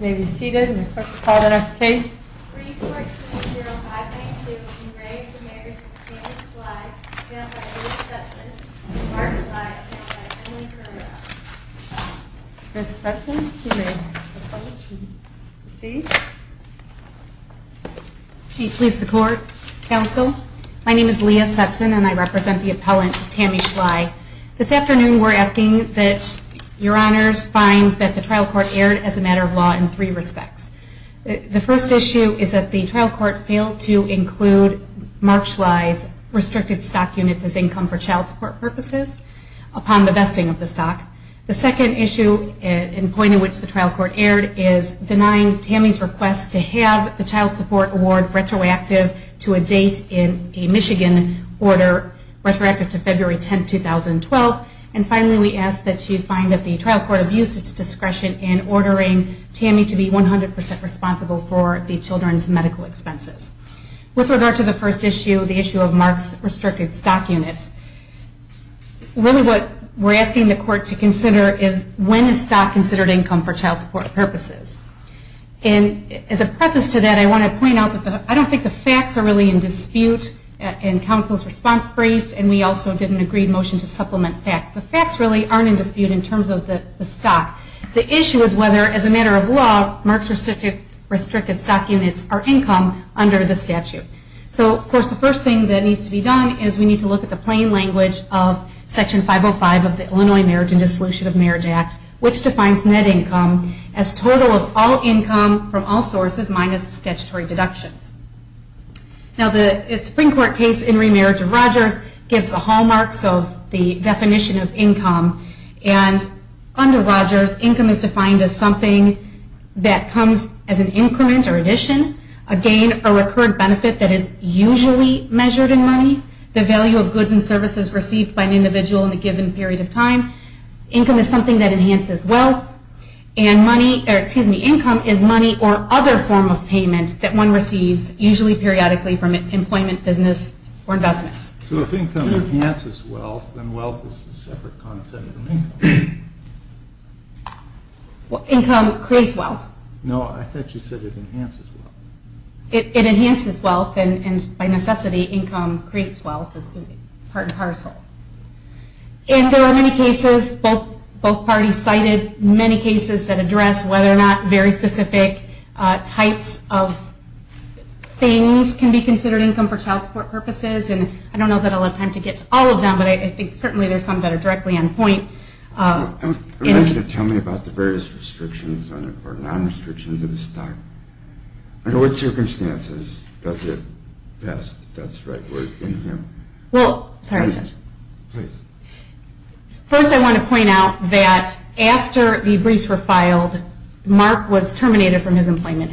May we be seated and call the next case. 3-14-0592 Enraged Marriage of Tammy Schlei Filed by Liz Sutson and Mark Schlei Filed by Emily Currier Ms. Sutson, you may approach and proceed. May it please the court. Counsel, my name is Leah Sutson and I represent the appellant, Tammy Schlei. This afternoon we're asking that your honors find that the trial court erred as a matter of law in three respects. The first issue is that the trial court failed to include Mark Schlei's restricted stock units as income for child support purposes upon the vesting of the stock. The second issue and point in which the trial court erred is denying Tammy's request to have the child support award retroactive to a date in a Michigan order retroactive to February 10, 2012. And finally we ask that you find that the trial court abused its discretion in ordering Tammy to be 100% responsible for the children's medical expenses. With regard to the first issue, the issue of Mark's restricted stock units, really what we're asking the court to consider is when is stock considered income for child support purposes. And as a preface to that I want to point out that I don't think the facts are really in dispute in counsel's response brief and we also did an agreed motion to supplement facts. The facts really aren't in dispute in terms of the stock. The issue is whether as a matter of law Mark's restricted stock units are income under the statute. So of course the first thing that needs to be done is we need to look at the plain language of Section 505 of the Illinois Marriage and Dissolution of Marriage Act, which defines net income as total of all income from all sources minus statutory deductions. Now the Supreme Court case in remerit of Rogers gives the hallmarks of the definition of income and under Rogers income is defined as something that comes as an increment or addition, again a recurrent benefit that is usually measured in money, the value of goods and services received by an individual in a given period of time. Income is something that enhances wealth and money, excuse me, income is money or other form of payment that one receives, usually periodically from employment, business, or investments. So if income enhances wealth, then wealth is a separate concept from income. Income creates wealth. No, I thought you said it enhances wealth. It enhances wealth and by necessity income creates wealth, part and parcel. And there are many cases, both parties cited many cases that address whether or not very specific types of things can be considered income for child support purposes, and I don't know that I'll have time to get to all of them, but I think certainly there are some that are directly on point. I would like you to tell me about the various restrictions or non-restrictions of the statute. Under what circumstances does it vest, that's the right word, income? Well, sorry Judge. Please. First I want to point out that after the briefs were filed, Mark was terminated from his employment,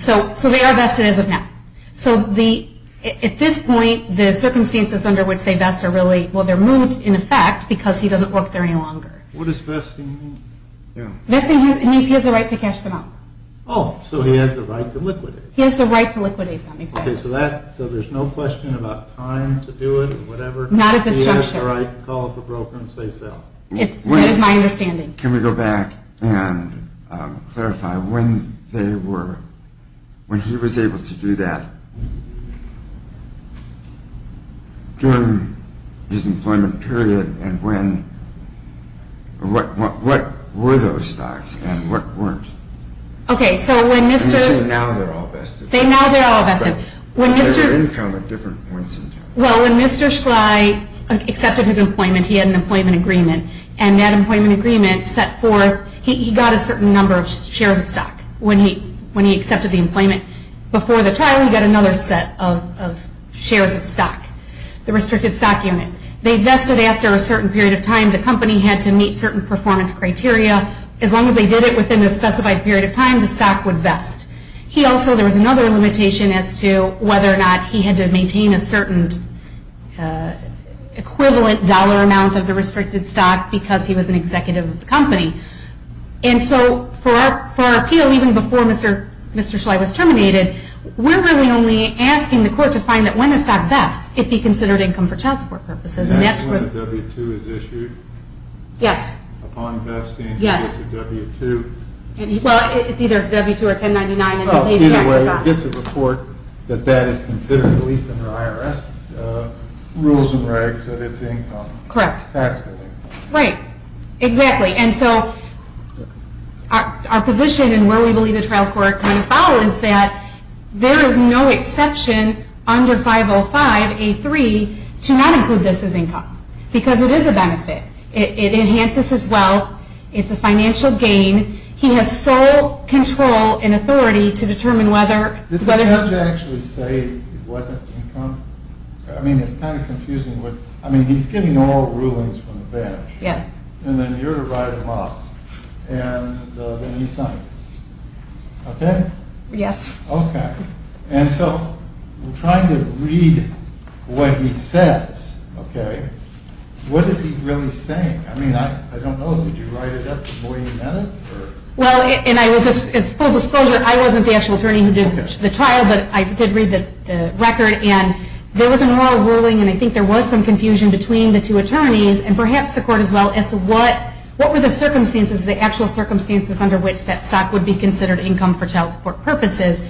so they are vested as of now. So at this point, the circumstances under which they vest are really, well they're moot in effect because he doesn't work there any longer. What does vesting mean? Vesting means he has the right to cash them out. Oh, so he has the right to liquidate. He has the right to liquidate them, exactly. Okay, so there's no question about time to do it or whatever? Not at this juncture. He has the right to call up a broker and say so. That is my understanding. Can we go back and clarify when they were, when he was able to do that during his employment period and when, what were those stocks and what weren't? Okay, so when Mr. And you say now they're all vested. Now they're all vested. But their income at different points in time. Well, when Mr. Schley accepted his employment, he had an employment agreement. And that employment agreement set forth, he got a certain number of shares of stock when he accepted the employment. Before the trial, he got another set of shares of stock, the restricted stock units. They vested after a certain period of time. The company had to meet certain performance criteria. As long as they did it within a specified period of time, the stock would vest. He also, there was another limitation as to whether or not he had to maintain a certain equivalent dollar amount of the restricted stock because he was an executive of the company. And so for our appeal, even before Mr. Schley was terminated, we're really only asking the court to find that when the stock vests, it be considered income for child support purposes. And that's where the W-2 is issued? Yes. Upon vesting? Yes. Well, it's either W-2 or 1099. It's a report that that is considered, at least under IRS rules and regs, that it's income. Correct. Right. Exactly. And so our position and where we believe the trial court can follow is that there is no exception under 505A3 to not include this as income because it is a benefit. It enhances his wealth. It's a financial gain. He has sole control and authority to determine whether. Did the judge actually say it wasn't income? I mean, it's kind of confusing. I mean, he's giving all rulings from the bench. Yes. And then you're to write them off. And then he's signed. Okay? Yes. Okay. And so we're trying to read what he says, okay? What is he really saying? I mean, I don't know. Did you write it up before you met him? Well, and as full disclosure, I wasn't the actual attorney who did the trial, but I did read the record, and there was a moral ruling, and I think there was some confusion between the two attorneys and perhaps the court as well as to what were the circumstances, the actual circumstances under which that stock would be considered income for child support purposes.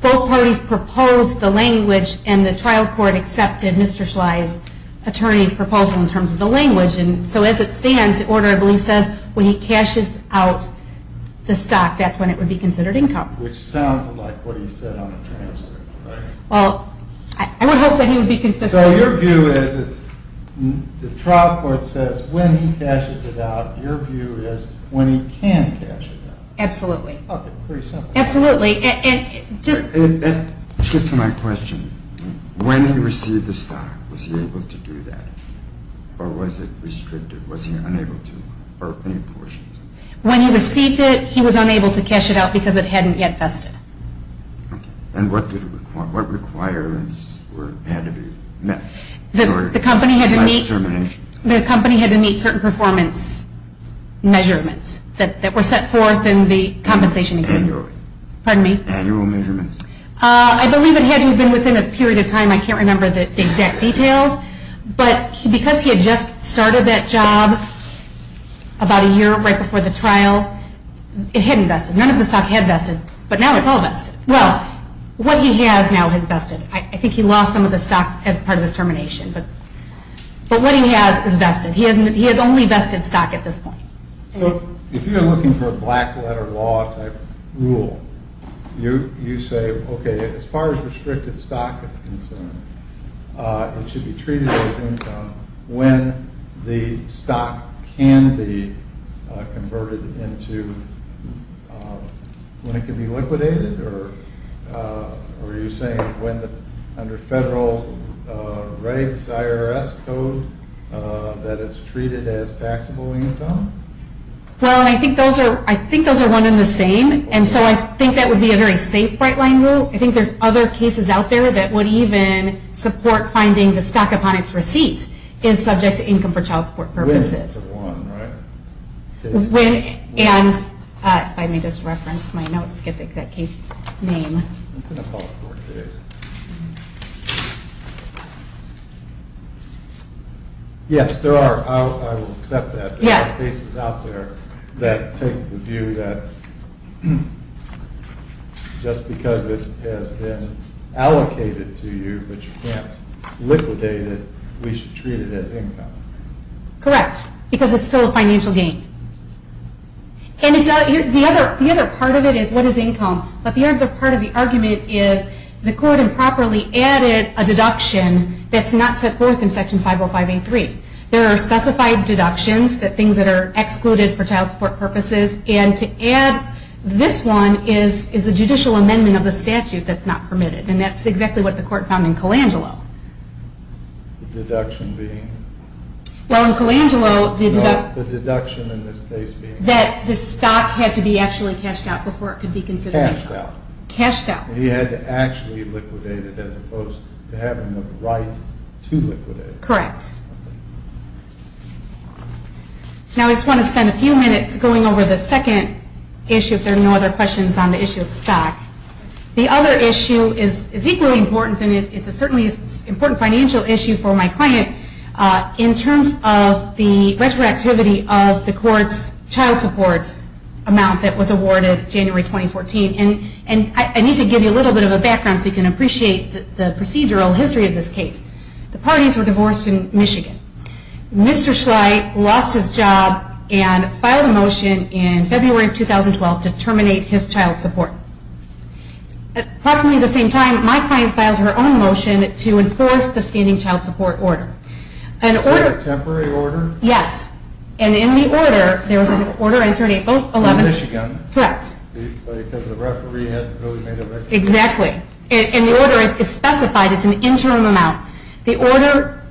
Both parties proposed the language, and the trial court accepted Mr. Schley's attorney's proposal in terms of the language. And so as it stands, the order, I believe, says when he cashes out the stock, that's when it would be considered income. Which sounds like what he said on the transcript, right? Well, I would hope that he would be consistent. So your view is the trial court says when he cashes it out. Your view is when he can cash it out. Absolutely. Okay, pretty simple. Absolutely. Just to my question, when he received the stock, was he able to do that? Or was it restricted? Was he unable to? When he received it, he was unable to cash it out because it hadn't yet vested. And what requirements had to be met? The company had to meet certain performance measurements that were set forth in the compensation agreement. Annual measurements. I believe it had to have been within a period of time. I can't remember the exact details. But because he had just started that job about a year right before the trial, it hadn't vested. None of the stock had vested. But now it's all vested. Well, what he has now is vested. I think he lost some of the stock as part of this termination. But what he has is vested. He has only vested stock at this point. So if you're looking for a black letter law type rule, you say, okay, as far as restricted stock is concerned, it should be treated as income when the stock can be converted into when it can be liquidated? Or are you saying under federal regs, IRS code, that it's treated as taxable income? Well, I think those are one and the same. And so I think that would be a very safe bright line rule. I think there's other cases out there that would even support finding the stock upon its receipt is subject to income for child support purposes. And if I may just reference my notes to get the exact case name. Yes, there are. I will accept that. There are cases out there that take the view that just because it has been allocated to you but you can't liquidate it, we should treat it as income. Correct. Because it's still a financial gain. And the other part of it is what is income? But the other part of the argument is the court improperly added a deduction that's not set forth in Section 505A3. There are specified deductions, things that are excluded for child support purposes. And to add this one is a judicial amendment of the statute that's not permitted. And that's exactly what the court found in Colangelo. The deduction being? Well, in Colangelo the deduction in this case being that the stock had to be actually cashed out before it could be considered income. Cashed out. Cashed out. He had to actually liquidate it as opposed to having the right to liquidate it. Correct. Now I just want to spend a few minutes going over the second issue if there are no other questions on the issue of stock. The other issue is equally important, and it's a certainly important financial issue for my client, in terms of the retroactivity of the court's child support amount that was awarded January 2014. And I need to give you a little bit of a background so you can appreciate the procedural history of this case. The parties were divorced in Michigan. Mr. Schlight lost his job and filed a motion in February of 2012 to terminate his child support. At approximately the same time, my client filed her own motion to enforce the standing child support order. Was that a temporary order? Yes. And in the order, there was an order entered April 11th. In Michigan? Correct. Because the referee hadn't really made a decision? Exactly. And the order is specified as an interim amount. The order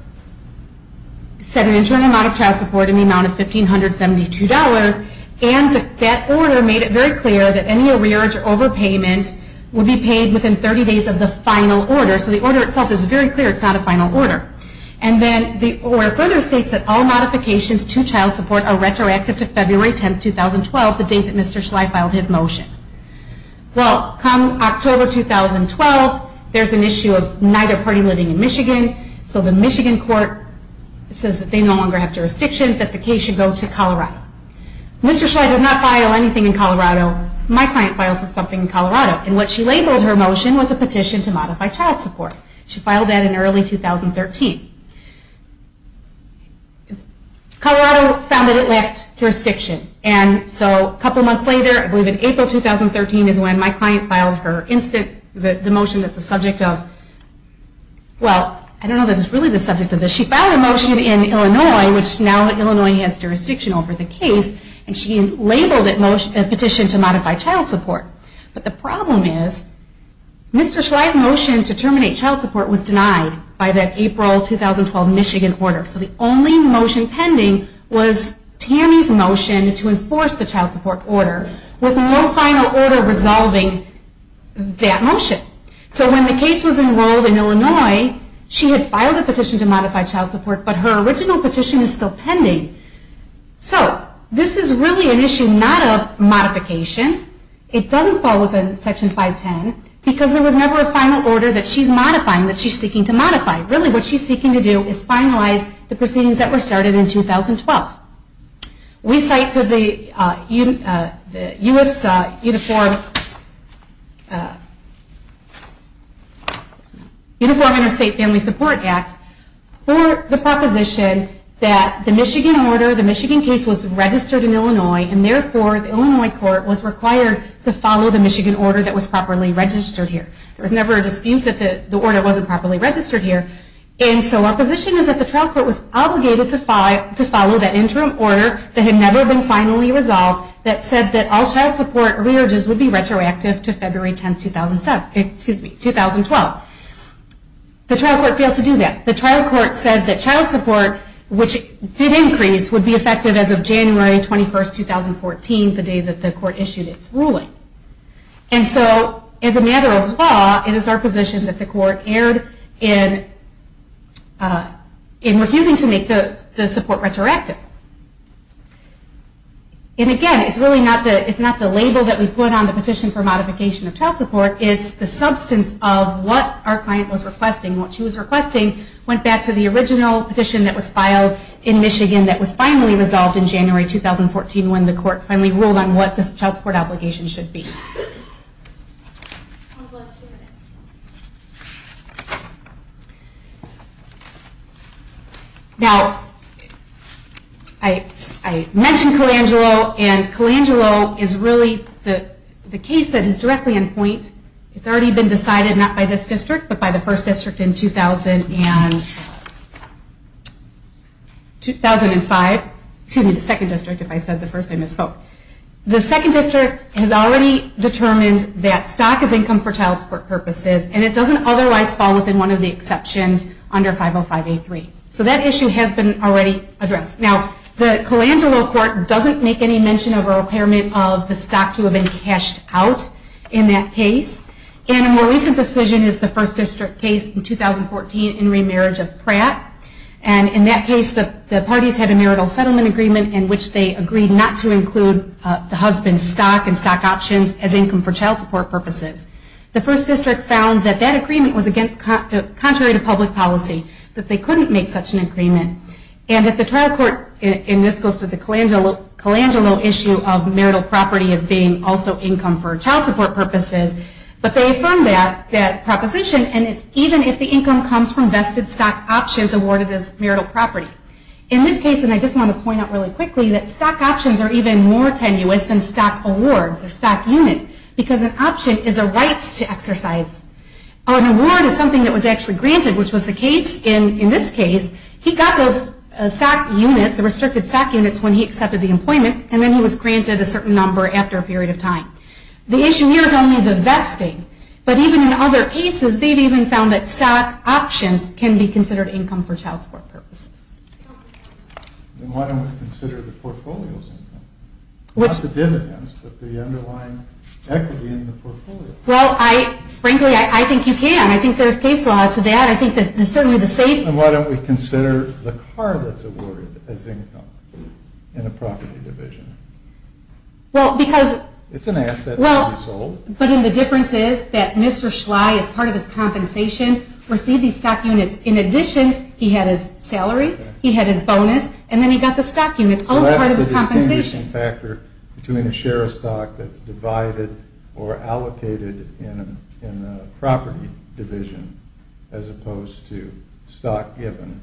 set an interim amount of child support in the amount of $1,572, and that order made it very clear that any arrearage or overpayment would be paid within 30 days of the final order. So the order itself is very clear it's not a final order. And then the order further states that all modifications to child support are retroactive to February 10th, 2012, the date that Mr. Schlight filed his motion. Well, come October 2012, there's an issue of neither party living in Michigan, so the Michigan court says that they no longer have jurisdiction, that the case should go to Colorado. Mr. Schlight does not file anything in Colorado. My client files something in Colorado. And what she labeled her motion was a petition to modify child support. She filed that in early 2013. Colorado found that it lacked jurisdiction. And so a couple months later, I believe in April 2013, is when my client filed her motion that's a subject of, well, I don't know if it's really the subject of this. She filed a motion in Illinois, which now Illinois has jurisdiction over the case, and she labeled it a petition to modify child support. But the problem is Mr. Schlight's motion to terminate child support was denied by that April 2012 Michigan order. So the only motion pending was Tammy's motion to enforce the child support order, with no final order resolving that motion. So when the case was enrolled in Illinois, she had filed a petition to modify child support, but her original petition is still pending. So this is really an issue not of modification. It doesn't fall within Section 510, because there was never a final order that she's modifying, that she's seeking to modify. Really what she's seeking to do is finalize the proceedings that were started in 2012. We cite to the U.S. Uniform Interstate Family Support Act, for the proposition that the Michigan order, the Michigan case was registered in Illinois, and therefore the Illinois court was required to follow the Michigan order that was properly registered here. There was never a dispute that the order wasn't properly registered here. And so our position is that the trial court was obligated to follow that interim order that had never been finally resolved, that said that all child support re-urges would be retroactive to February 10, 2012. The trial court failed to do that. The trial court said that child support, which did increase, would be effective as of January 21, 2014, the day that the court issued its ruling. And so, as a matter of law, it is our position that the court erred in refusing to make the support retroactive. And again, it's really not the label that we put on the petition for modification of child support, it's the substance of what our client was requesting. What she was requesting went back to the original petition that was filed in Michigan that was finally resolved in January 2014, when the court finally ruled on what the child support obligation should be. Now, I mentioned Colangelo, and Colangelo is really the case that is directly in point. It's already been decided, not by this district, but by the first district in 2005. Excuse me, the second district, if I said the first, I misspoke. The second district has already determined that stock is income for child support purposes, and it doesn't otherwise fall within one of the exceptions under 505A3. So that issue has been already addressed. Now, the Colangelo court doesn't make any mention of a requirement of the stock to have been cashed out in that case. And a more recent decision is the first district case in 2014 in remarriage of Pratt. And in that case, the parties had a marital settlement agreement in which they agreed not to include the husband's stock and stock options as income for child support purposes. The first district found that that agreement was contrary to public policy, that they couldn't make such an agreement, and that the trial court, and this goes to the Colangelo issue of marital property as being also income for child support purposes, but they affirmed that proposition, and it's even if the income comes from vested stock options awarded as marital property. In this case, and I just want to point out really quickly, that stock options are even more tenuous than stock awards or stock units, because an option is a right to exercise. An award is something that was actually granted, which was the case in this case. He got those stock units, the restricted stock units, when he accepted the employment, and then he was granted a certain number after a period of time. The issue here is only the vesting, but even in other cases, they've even found that stock options can be considered income for child support purposes. Then why don't we consider the portfolio's income? Not the dividends, but the underlying equity in the portfolio. Well, frankly, I think you can. I think there's case law to that. I think certainly the savings... Then why don't we consider the car that's awarded as income in a property division? Well, because... It's an asset that can be sold. But then the difference is that Mr. Schley, as part of his compensation, received these stock units. In addition, he had his salary, he had his bonus, and then he got the stock units, also part of his compensation. So that's the distinguishing factor between a share of stock that's divided or allocated in a property division as opposed to stock given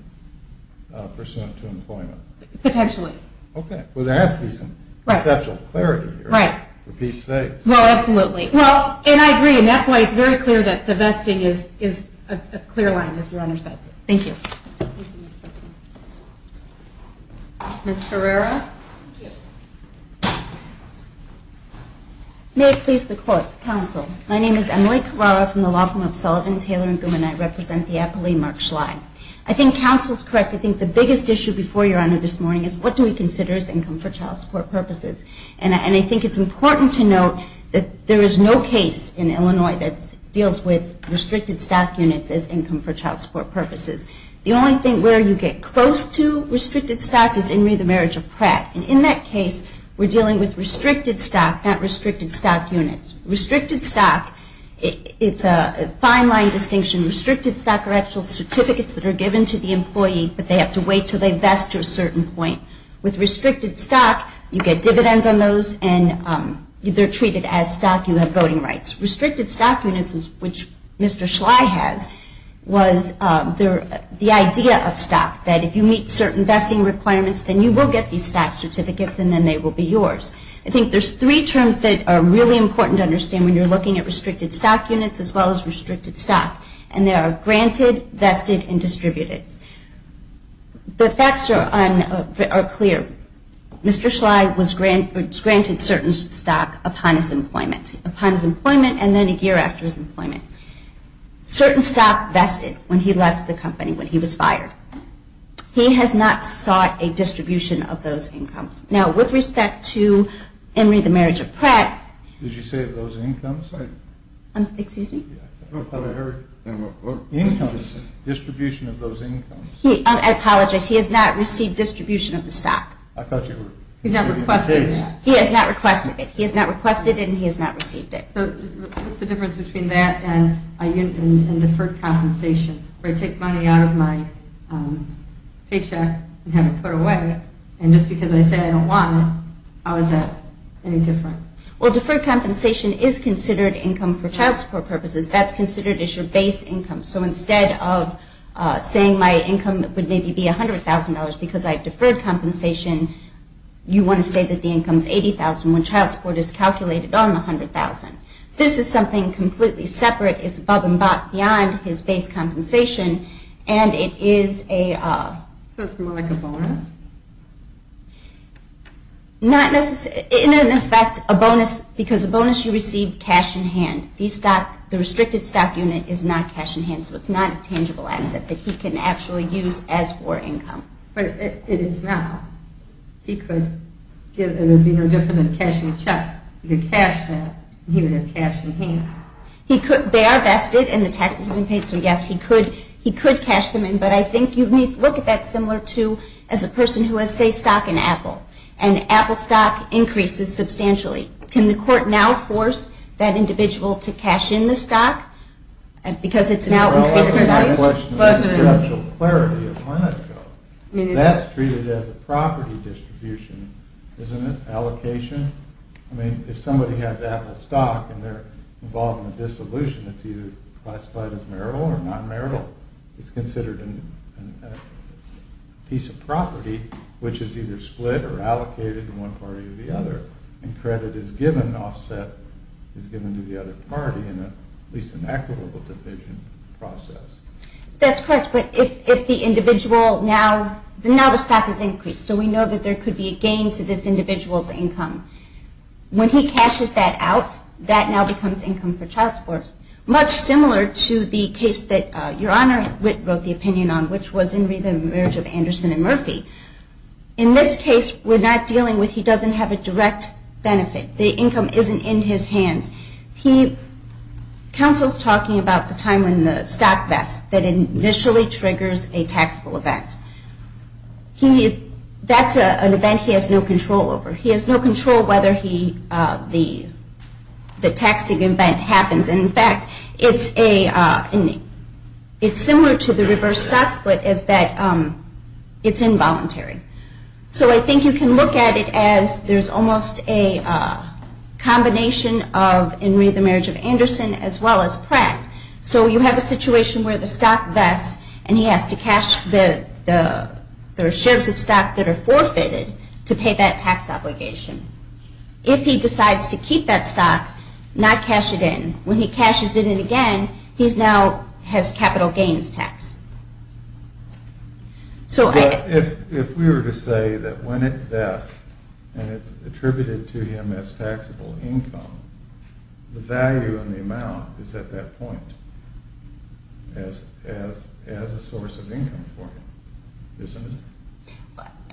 pursuant to employment. Potentially. Okay. Well, there has to be some conceptual clarity here. Right. Repeats fakes. Well, absolutely. And I agree, and that's why it's very clear that divesting is a clear line, as Your Honor said. Thank you. Ms. Herrera? Thank you. May it please the court, counsel. My name is Emily Herrera from the law firm of Sullivan, Taylor & Gouman. I represent the Appalachian Mark Schley. I think counsel's correct. I think the biggest issue before Your Honor this morning is what do we consider as income for child support purposes? And I think it's important to note that there is no case in Illinois that deals with restricted stock units as income for child support purposes. The only thing where you get close to restricted stock is in the marriage of Pratt. And in that case, we're dealing with restricted stock, not restricted stock units. Restricted stock, it's a fine line distinction. Restricted stock are actual certificates that are given to the employee, but they have to wait until they vest to a certain point. With restricted stock, you get dividends on those, and they're treated as stock. You have voting rights. Restricted stock units, which Mr. Schley has, was the idea of stock, that if you meet certain vesting requirements, then you will get these stock certificates, and then they will be yours. I think there's three terms that are really important to understand when you're looking at restricted stock units as well as restricted stock, and they are granted, vested, and distributed. The facts are clear. Mr. Schley was granted certain stock upon his employment, and then a year after his employment. Certain stock vested when he left the company, when he was fired. He has not sought a distribution of those incomes. Now, with respect to Emory, the marriage of Pratt. Did you say those incomes? Excuse me? Incomes. Distribution of those incomes. I apologize. He has not received distribution of the stock. I thought you were... He has not requested it. He has not requested it, and he has not received it. What's the difference between that and deferred compensation, where I take money out of my paycheck and have it put away, and just because I say I don't want it, how is that any different? Well, deferred compensation is considered income for child support purposes. That's considered as your base income. So instead of saying my income would maybe be $100,000 because I have deferred compensation, you want to say that the income is $80,000 when child support is calculated on the $100,000. This is something completely separate. It's above and beyond his base compensation, and it is a... So it's more like a bonus? Not necessarily. In effect, a bonus, because a bonus, you receive cash in hand. The restricted stock unit is not cash in hand, so it's not a tangible asset that he can actually use as for income. But if it is not, he could give... It would be no different than a cash in check. You could cash that, and he would have cash in hand. They are vested, and the taxes have been paid, so yes, he could cash them in, but I think you need to look at that similar to as a person who has, say, stock in Apple, and Apple stock increases substantially. Can the court now force that individual to cash in the stock because it's now increased in value? That's a question of conceptual clarity. That's treated as a property distribution. Isn't it allocation? I mean, if somebody has Apple stock, and they're involved in a dissolution, it's either classified as marital or non-marital. It's considered a piece of property, which is either split or allocated to one party or the other, and credit is given, offset, is given to the other party in at least an equitable division process. That's correct, but if the individual now... Now the stock has increased, so we know that there could be a gain to this individual's income. When he cashes that out, that now becomes income for child support, much similar to the case that Your Honor Witt wrote the opinion on, which was in the marriage of Anderson and Murphy. In this case, we're not dealing with... He doesn't have a direct benefit. The income isn't in his hands. He... Counsel's talking about the time when the stock vest that initially triggers a taxable event. That's an event he has no control over. He has no control whether the taxing event happens and, in fact, it's a... It's similar to the reverse stock split, is that it's involuntary. So I think you can look at it as there's almost a combination of in the marriage of Anderson as well as Pratt. So you have a situation where the stock vest, and he has to cash the... There are shares of stock that are forfeited to pay that tax obligation. If he decides to keep that stock, not cash it in, when he cashes it in again, he now has capital gains tax. So I... But if we were to say that when it vests and it's attributed to him as taxable income, the value and the amount is at that point as a source of income for him, isn't it?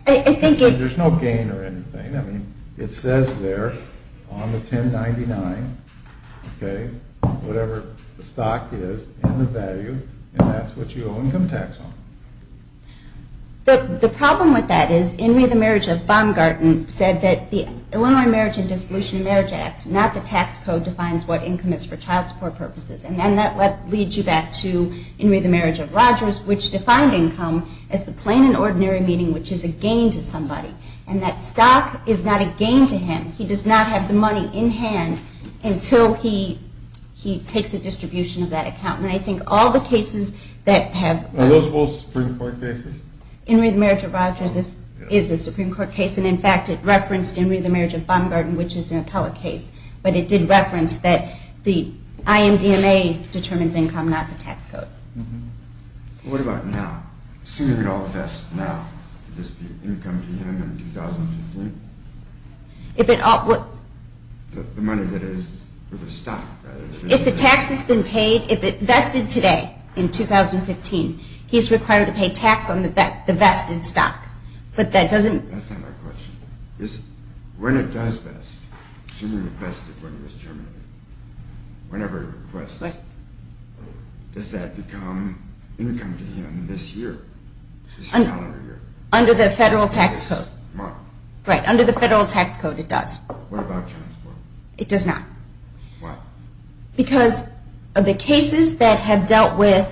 I think it's... There's no gain or anything. I mean, it says there on the 1099, whatever the stock is and the value, and that's what you owe income tax on. But the problem with that is in the marriage of Baumgarten said that the Illinois Marriage and Dissolution Marriage Act, not the tax code, defines what income is for child support purposes. And that leads you back to in the marriage of Rogers, which defined income as the plain and ordinary meaning which is a gain to somebody. And that stock is not a gain to him. He does not have the money in hand until he takes a distribution of that account. And I think all the cases that have... Are those both Supreme Court cases? In the marriage of Rogers is a Supreme Court case. And in fact, it referenced in the marriage of Baumgarten, which is an appellate case. But it did reference that the IMDMA determines income, not the tax code. What about now? Assuming it all vests now, would this be income to him in 2015? The money that is for the stock. If the tax has been paid, if it vested today in 2015, he is required to pay tax on the vested stock. But that doesn't... That's not my question. When it does vest, assuming it vested when he was chairman, whenever he requests, does that become income to him this year? Under the federal tax code. Right. Under the federal tax code, it does. What about child support? It does not. Why? Because of the cases that have dealt with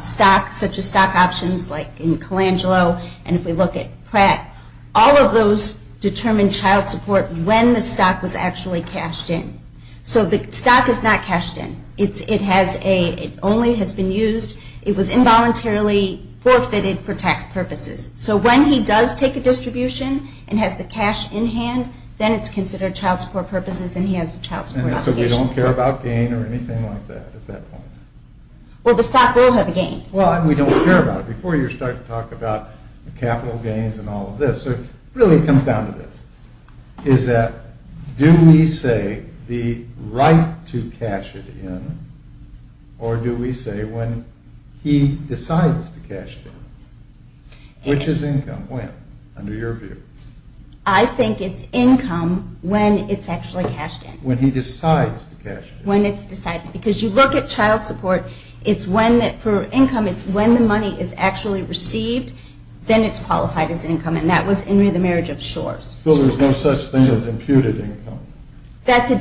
stock, such as stock options, like in Colangelo, and if we look at Pratt, all of those determine child support when the stock was actually cashed in. So the stock is not cashed in. It only has been used... It was involuntarily forfeited for tax purposes. So when he does take a distribution and has the cash in hand, then it's considered child support purposes and he has a child support obligation. And so we don't care about gain or anything like that at that point? Well, the stock will have a gain. Well, and we don't care about it. Before you start to talk about capital gains and all of this, it really comes down to this. Is that... Do we say the right to cash it in, or do we say when he decides to cash it in? Which is income? When? Under your view. I think it's income when it's actually cashed in. When he decides to cash it in. When it's decided. Because you look at child support, it's when... For income, it's when the money is actually received, then it's qualified as income. And that was in the marriage of Shores. So there's no such thing as imputed income. That's a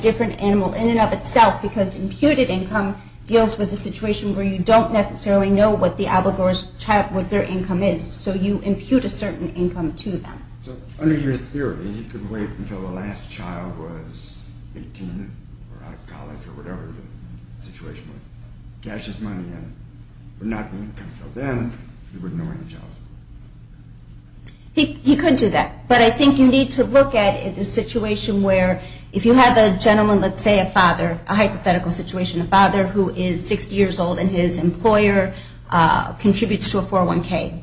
different animal in and of itself because imputed income deals with a situation where you don't necessarily know what their income is. So you impute a certain income to them. So under your theory, he could wait until the last child was 18 or out of college or whatever the situation was, cash his money in, but not the income. So then he wouldn't know any child support. He could do that. But I think you need to look at a situation where if you have a gentleman, let's say a father, a hypothetical situation, a father who is 60 years old and his employer contributes to a 401K.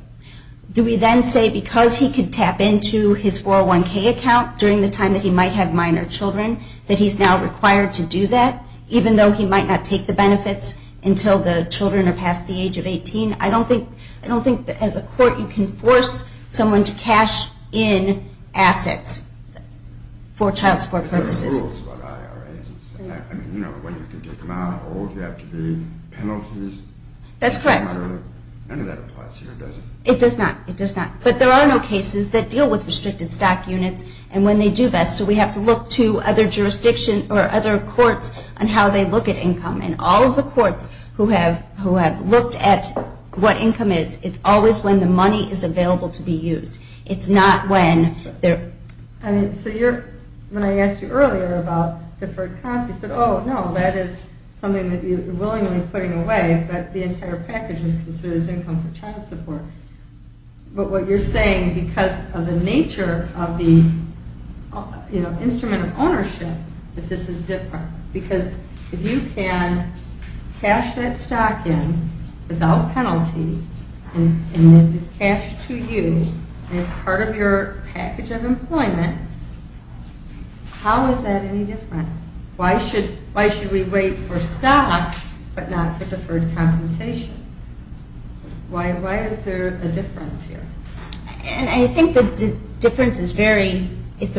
Do we then say because he could tap into his 401K account during the time that he might have minor children that he's now required to do that even though he might not take the benefits until the children are past the age of 18? I don't think that as a court you can force someone to cash in assets for child support purposes. There are rules about IRAs. I mean, you know, when you can take them out or you have to pay penalties. That's correct. None of that applies here, does it? It does not. It does not. But there are no cases that deal with restricted stock units and when they do that, so we have to look to other jurisdictions or other courts on how they look at income. And all of the courts who have looked at what income is, it's always when the money is available to be used. It's not when they're... When I asked you earlier about deferred comp, you said, oh, no, that is something that you're willingly putting away but the entire package is considered as income for child support. But what you're saying because of the nature of the instrument of ownership that this is different because if you can cash that stock in without penalty and it is cashed to you as part of your package of employment, how is that any different? Why should we wait for stock but not for deferred compensation? Why is there a difference here? I think the difference is very... It's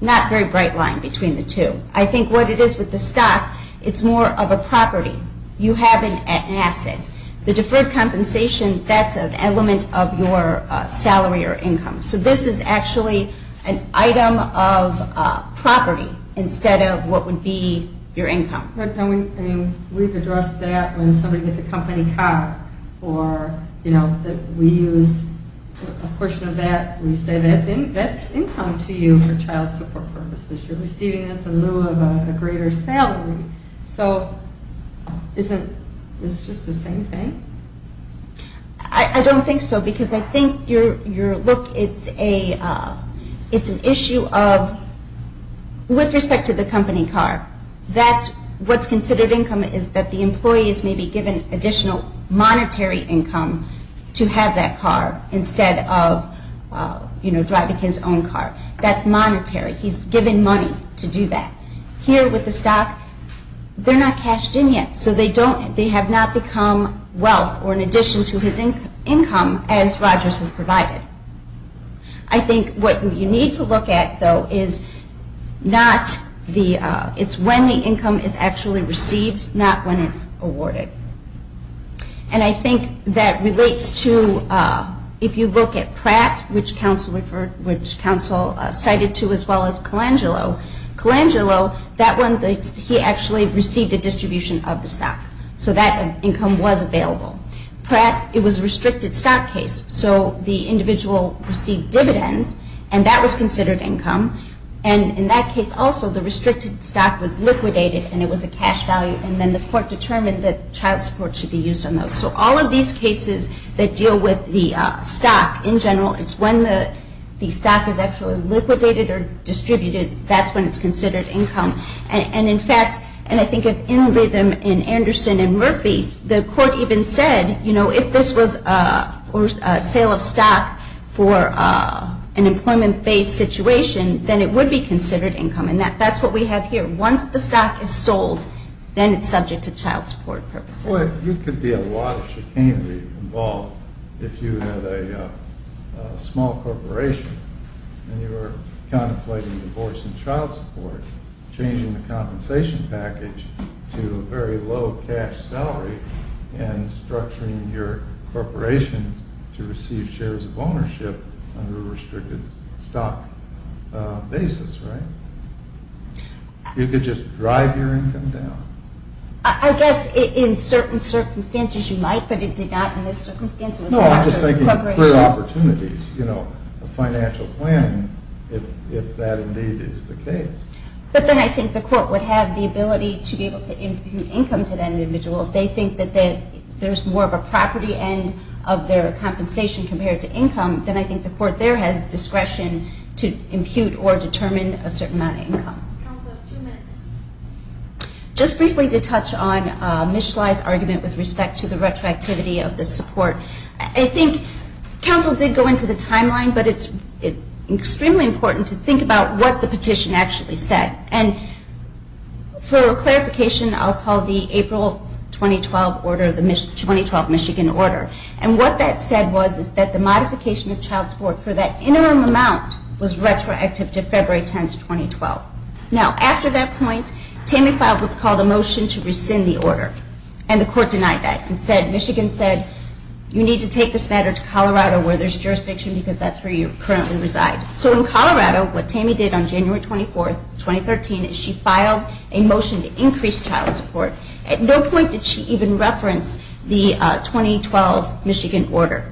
not a very bright line between the two. I think what it is with the stock, it's more of a property. You have an asset. The deferred compensation, that's an element of your salary or income. So this is actually an item of property instead of what would be your income. We've addressed that when somebody gets a company car or we use a portion of that. We say that's income to you for child support purposes. You're receiving this in lieu of a greater salary. So isn't this just the same thing? I don't think so because I think your look, it's an issue of... With respect to the company car, that's what's considered income is that the employees may be given additional monetary income to have that car instead of driving his own car. That's monetary. He's given money to do that. Here with the stock, they're not cashed in yet. So they have not become wealth or in addition to his income as Rogers has provided. I think what you need to look at though is not the... It's when the income is actually received not when it's awarded. And I think that relates to if you look at Pratt, which counsel cited to as well as Colangelo. Colangelo, that one, he actually received a distribution of the stock. So that income was available. Pratt, it was a restricted stock case. So the individual received dividends and that was considered income. And in that case also, the restricted stock was liquidated and it was a cash value and then the court determined that child support should be used on those. So all of these cases that deal with the stock in general, it's when the stock is actually liquidated or distributed, that's when it's considered income. And in fact, and I think of in rhythm in Anderson and Murphy, the court even said, you know, if this was a sale of stock for an employment-based situation, then it would be considered income. And that's what we have here. Once the stock is sold, then it's subject to child support purposes. Well, you could be a lot of chicanery involved if you had a small corporation and you were contemplating divorcing child support, changing the compensation package to a very low cash salary and structuring your corporation to receive shares of ownership under a restricted stock basis, right? You could just drive your income down. I guess in certain circumstances, you might, but it did not in this circumstance. No, I'm just saying you could create opportunities, you know, a financial plan if that indeed is the case. But then I think the court would have the ability to be able to impute income to that individual. If they think that there's more of a property end of their compensation compared to income, then I think the court there has discretion to impute or determine a certain amount of income. Counsel, two minutes. Just briefly to touch on Ms. Schley's argument with respect to the retroactivity of the support. I think counsel did go into the timeline, but it's extremely important to think about what the petition actually said. And for clarification, I'll call the April 2012 order, the 2012 Michigan order. And what that said was that the modification of child support for that interim amount was retroactive to February 10, 2012. Now, after that point, Tammy filed what's called a motion to rescind the order. And the court denied that and said Michigan said you need to take this matter to Colorado where there's jurisdiction because that's where you currently reside. So in Colorado, what Tammy did on January 24, 2013 is she filed a motion to increase child support. At no point did she even reference the 2012 Michigan order.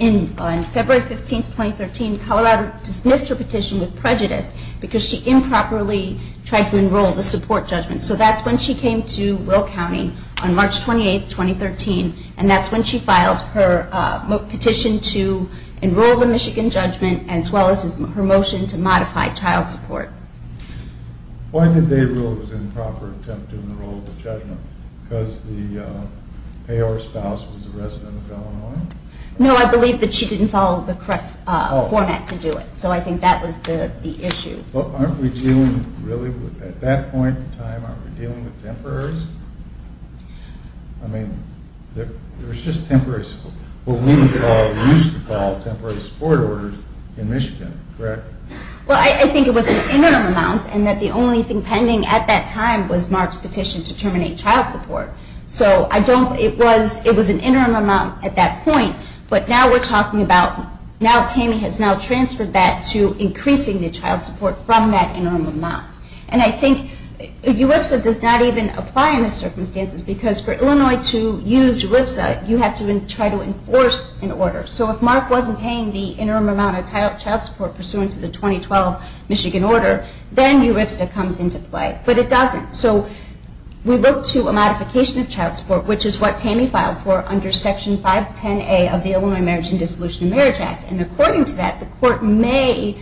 On February 15, 2013, Colorado dismissed her petition with prejudice because she improperly tried to enroll the support judgment. So that's when she came to Will County on March 28, 2013 and that's when she filed her petition to enroll the Michigan judgment as well as her motion to modify child support. Why did they rule it was an improper attempt to enroll the judgment? Because the payor spouse was a resident of Illinois? No, I believe that she didn't follow the correct format to do it. So I think that was the issue. But aren't we dealing really with at that point in time aren't we dealing with temporaries? I mean there was just what we used to call temporary support orders in Michigan, correct? Well, I think it was an interim amount and that the only thing pending at that time was Mark's petition to terminate child support. So I don't, it was an interim amount at that point but now we're talking about, now Tami has now transferred that to increasing the child support from that interim amount. And I think URIFSA does not even apply in these circumstances because for Illinois to use URIFSA you have to try to enforce an order. So if Mark wasn't paying the interim amount of child support pursuant to the 2012 Michigan order then URIFSA comes into play. But it doesn't. So we look to a modification of child support, which is what Tami filed for under section 510A of the Illinois Marriage and Dissolution of Marriage Act and according to that the court may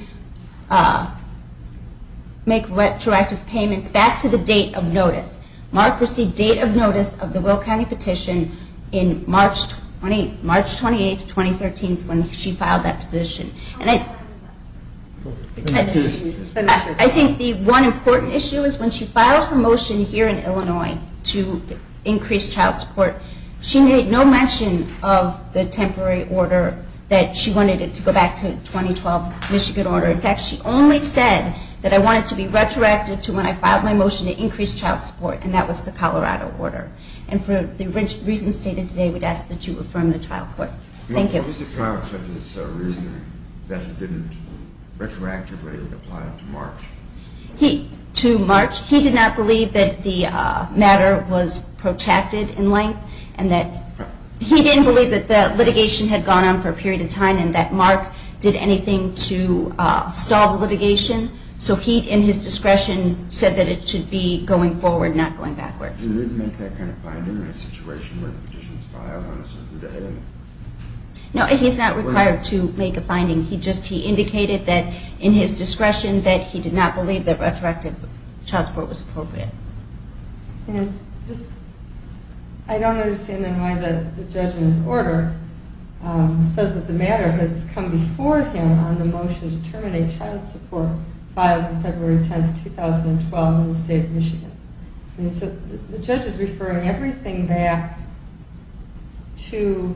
make retroactive payments back to the date of notice. Mark received date of notice of the Will County petition in March 28, 2013 when she filed that motion to increase child support. She made no mention of the temporary order that she wanted it to go back to the 2012 Michigan order. In fact, she only said that I wanted to be retroactive to when I filed my motion to increase child support and that was the Colorado order. And for the reasons stated today, we'd ask that you affirm the trial court. Thank you. What was the trial judge's reasoning that he didn't retroactively apply to March? He did not believe that the matter was protracted in length and that he didn't believe that the litigation had gone on for a period of time and that Mark did anything to stall the litigation. So he, in his discretion, said that it should be going forward, not going backwards. Did he make that kind of finding? No, he's not required to make a finding. He just indicated that in his discretion that he did not believe that the had gone of time and that Mark did not make a decision for him on the motion to terminate child support filed on February 10, 2012 in the state of Michigan. The judge is referring everything back to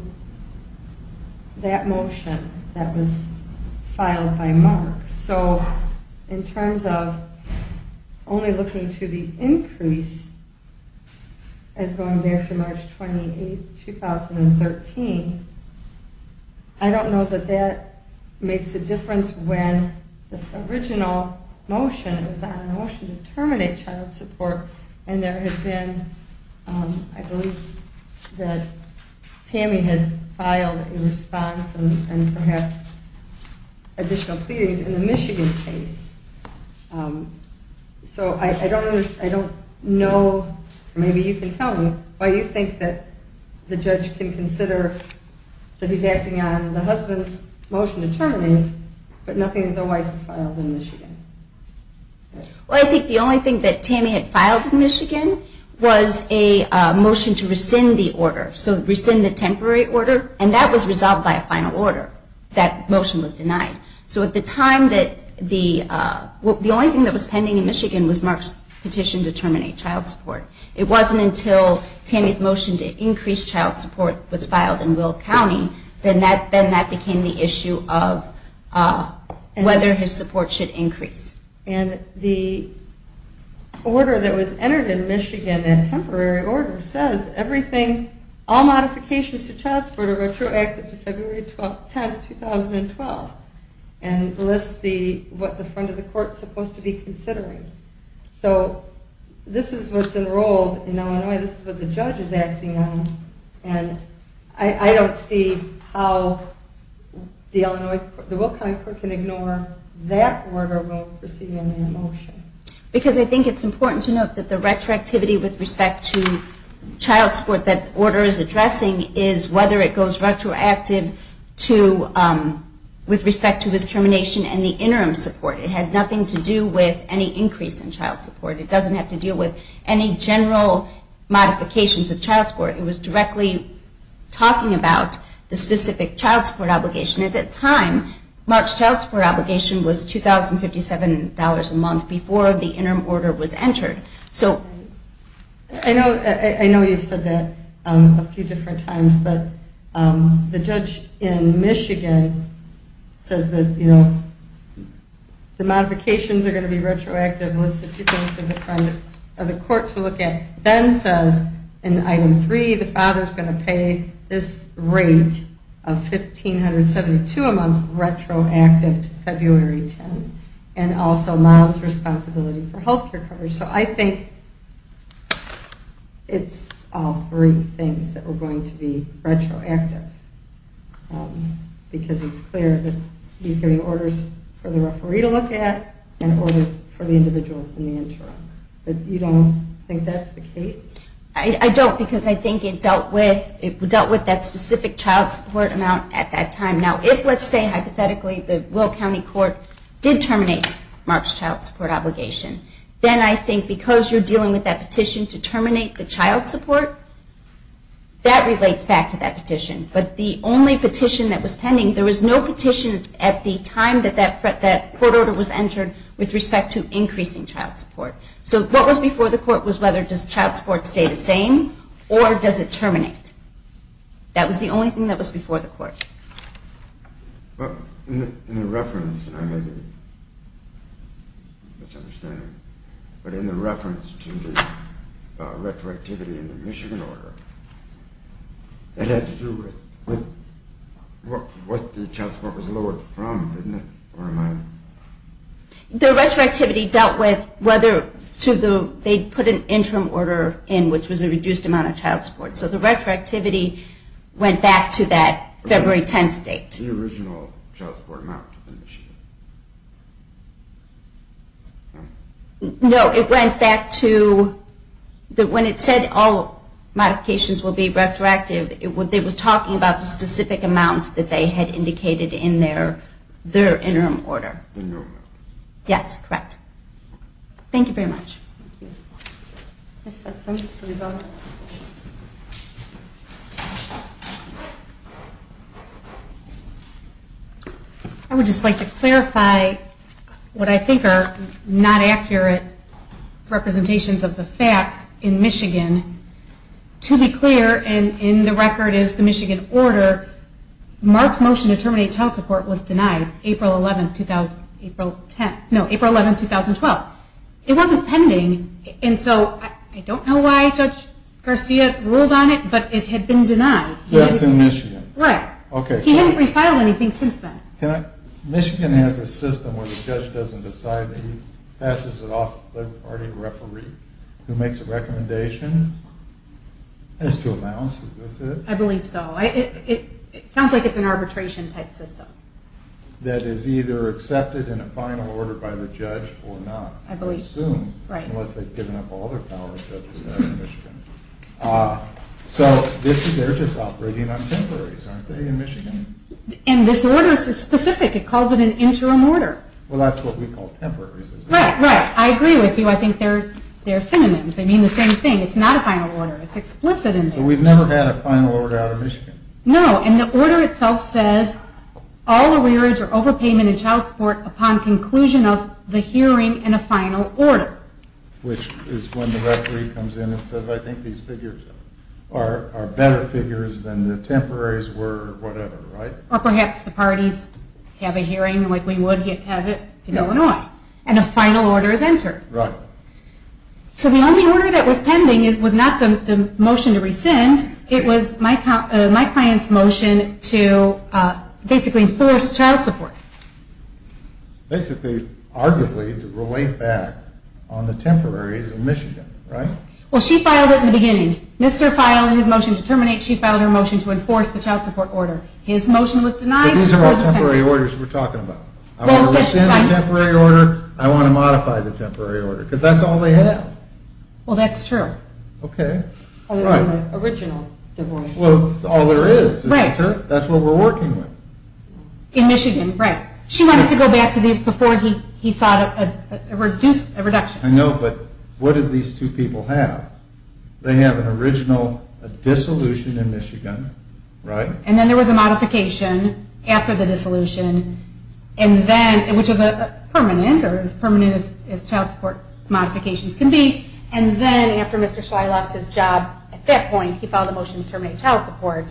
that motion that was filed by Mark. So in fact, I don't know that that makes a difference when the original motion was on a motion to terminate child support and there had been, I believe, that Tammy had filed a response and perhaps additional pleadings in the Michigan case. So I don't know, maybe you can tell me, why you know why the judge didn't consider that he's acting on the husband's motion to terminate, but nothing that the wife filed in Michigan. Well, I think the only thing that Tammy had filed in Michigan was a motion to rescind the order. So rescind the temporary order and that was the only that the child support was filed in Will County. Then that became the issue of whether his support should increase. And the order that was entered in Michigan, that temporary order, says everything, all modifications to child support are retroactive to February 10, 2012 and lists what the judge is acting on. And I don't see how the Illinois, the Will County court can ignore that order. Because I think it's important to note that the retroactivity with respect to child support that the order is addressing is whether it goes retroactive with respect to his termination and the interim support. It had nothing to do with any increase in child support. It doesn't have to deal with any general modifications of child support. It was directly talking about the specific child support obligation. At that time, March child support obligation was $2,057 a month before the interim order was entered. I know you have said that a few different times, but the judge in Michigan says that the modifications are going to be retroactive. Ben says in item three, the father is going to pay this rate of $1,572 a month retroactive to February 10. And also allows responsibility for health care coverage. So I think it's all three things that are going to be retroactive because it's clear that he's giving orders for the referee to look at and orders for the individuals in the interim. You don't think that's the case? I don't because I is a very specific child support amount at that time. Now if let's say hypothetically the Will County Court did terminate Mark's child support obligation, then I think because you're dealing with that petition to terminate the child support, that relates back to that petition. But the only petition that was pending, there was no petition at the time that that court order was entered with respect to increasing child support. So what was before the court was whether does child support stay the same or does it terminate? That was the only thing that was before the court. In the reference to the retroactivity in the Michigan order, it had to do with what the child support was lowered from, didn't it? Or am I The retroactivity dealt with whether to the, they put an interim order in which was a reduced amount of child support. So the retroactivity went back to that February 10th date. The original child support amount in Michigan. No, it went back to that when it said all modifications will be retroactive, it was talking about the specific amounts that they had indicated in their interim order. Yes, correct. Thank you very much. I would just like to clarify what I think are not accurate representations of the facts in Michigan. To be clear, and in the the Michigan order, Mark's motion to terminate child support was denied April 11th, 2012. It was appended to the Michigan order, and so I don't know why Judge Garcia ruled on it, but it had been denied. That's in Michigan? Right. He hadn't refiled anything since then. Michigan has a system where the judge doesn't decide that he passes it off to the party referee who makes a recommendation as to amounts. I believe so. It sounds like it's an arbitration type system. That is either accepted in a final order by the judge or not. I believe so. Right. Unless they've given up all their power to the judge in Michigan. So they're just operating on temporaries, aren't they, in Michigan? And this order is specific. It calls it an interim order. Well, that's what we call temporaries. Right. I agree with you. I think they're synonyms. They mean the same thing. It's not a final order. It's explicit. So we've never had a final order out of Michigan? No. And the final order is entered. Right. So the only order that was pending was not the motion to rescind. It was my client's motion to basically enforce child support. Basically, arguably, to relate back on the temporaries in Michigan, right? Well, she filed it in the beginning. Mr. and his motion to terminate, she filed her motion to enforce the child support order. His motion was denied. But these are all temporary orders we're talking about. I want to rescind the temporary order. I want to modify the temporary order. Because that's all they have. Well, that's true. Okay. That's what we're working with. In Michigan, right. She wanted to go back to before he sought a reduction. I know, but what did these two people have? They have an original dissolution in Michigan, right? And then there was a modification after the dissolution, which is permanent, or as permanent as child support modifications can be. And then after Mr. Schley lost his job at that point, he filed a motion to terminate child support.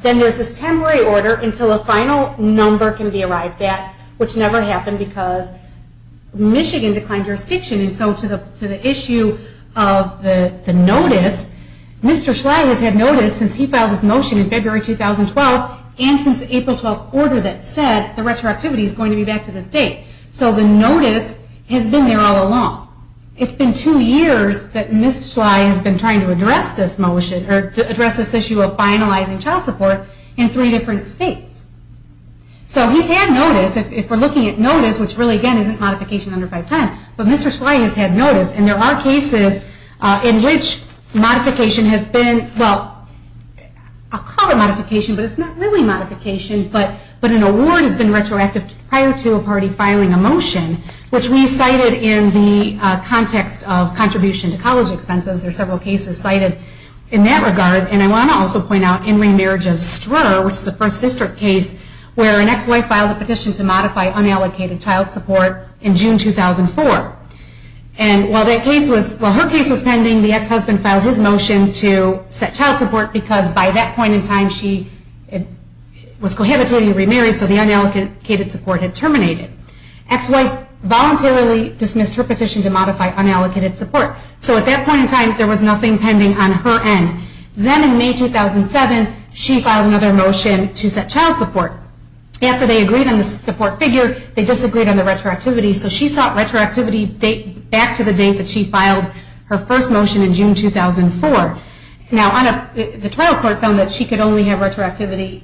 Then there's a temporary order until a final number can be arrived at, which never happened because Michigan declined jurisdiction. And so to the issue of the notice, Mr. Schley has had notice since he filed his motion in February 2012 and since April 12th order that said the retroactivity is going to be back to this date. So the notice has been there all along. It's been two years that Mr. Schley has been trying to address this motion or address this issue of finalizing child support in three different states. So he's had notice. If we're looking at notice, which really again isn't modification under 510, but Mr. Schley has had notice and there are cases in which modification has been, well, I'll call it modification, but it's not really modification, but an award has been retroactive prior to a party filing a motion, which we cited in the context of contribution to college expenses. There are several cases cited in that regard, and I want to also point out in remarriage of Strur, which is the first district case where an ex-wife filed a petition to modify unallocated child support in June 2004. And while her case was pending, the ex-husband filed his motion to set child support because by that point in time, she was cohabitating and remarried, so the unallocated support had terminated. Ex-wife voluntarily dismissed her petition to modify unallocated support. So at that point in time, there was nothing pending on her end. Then in May 2007, she filed another motion to set child support. After they agreed on the support figure, they disagreed on the retroactivity, so she sought retroactivity back to the date that she filed her first motion in June 2004. Now, the trial court found that she could only have been filing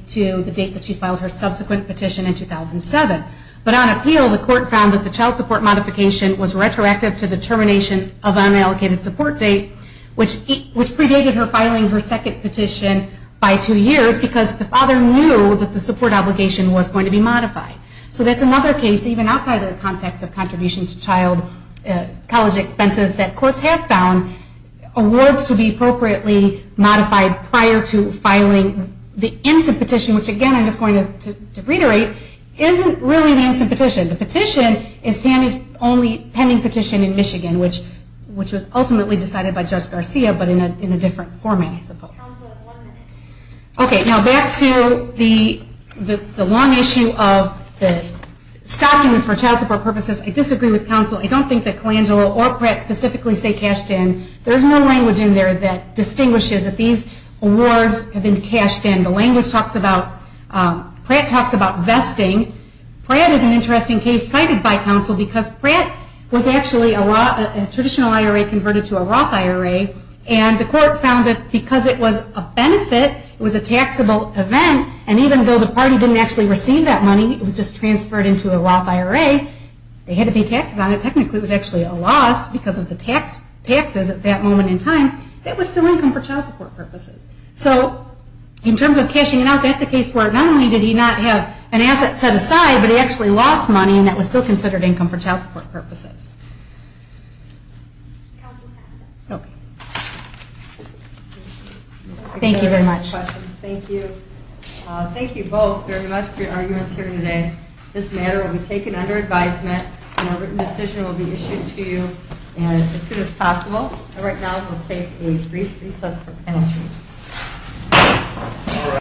her second petition by two years because the father knew that the support obligation was going to be modified. So that's another case, even outside the context of contribution to child college expenses, that courts have found awards to be appropriately modified prior to filing the instant petition, which, again, I'm just going to reiterate, isn't really the instant petition. The petition is Tammy's only pending petition in Michigan, which was ultimately decided by Judge Garcia, but in a different format, I suppose. Okay, now, back to the long issue of stopping this for child support purposes. I disagree with counsel. I don't think that Colangelo or Pratt specifically say cashed in. There is no language in there that distinguishes that these awards have been cashed in. The language talks about Pratt talks about vesting. Pratt is an interesting case cited by counsel because Pratt was actually a traditional IRA converted to a Roth IRA, and the court found that because it was a benefit, it was a taxable event, and even though the party didn't actually receive that money, it was just transferred into a Roth IRA, they had to pay taxes on it. Technically, it was actually a loss because of the taxes at that moment in time. Thank you very much. Thank you both very much for your arguments here today. This matter will be taken under advisement and a written decision will be issued to you as soon as possible. And right now we'll take a brief recess for penalty.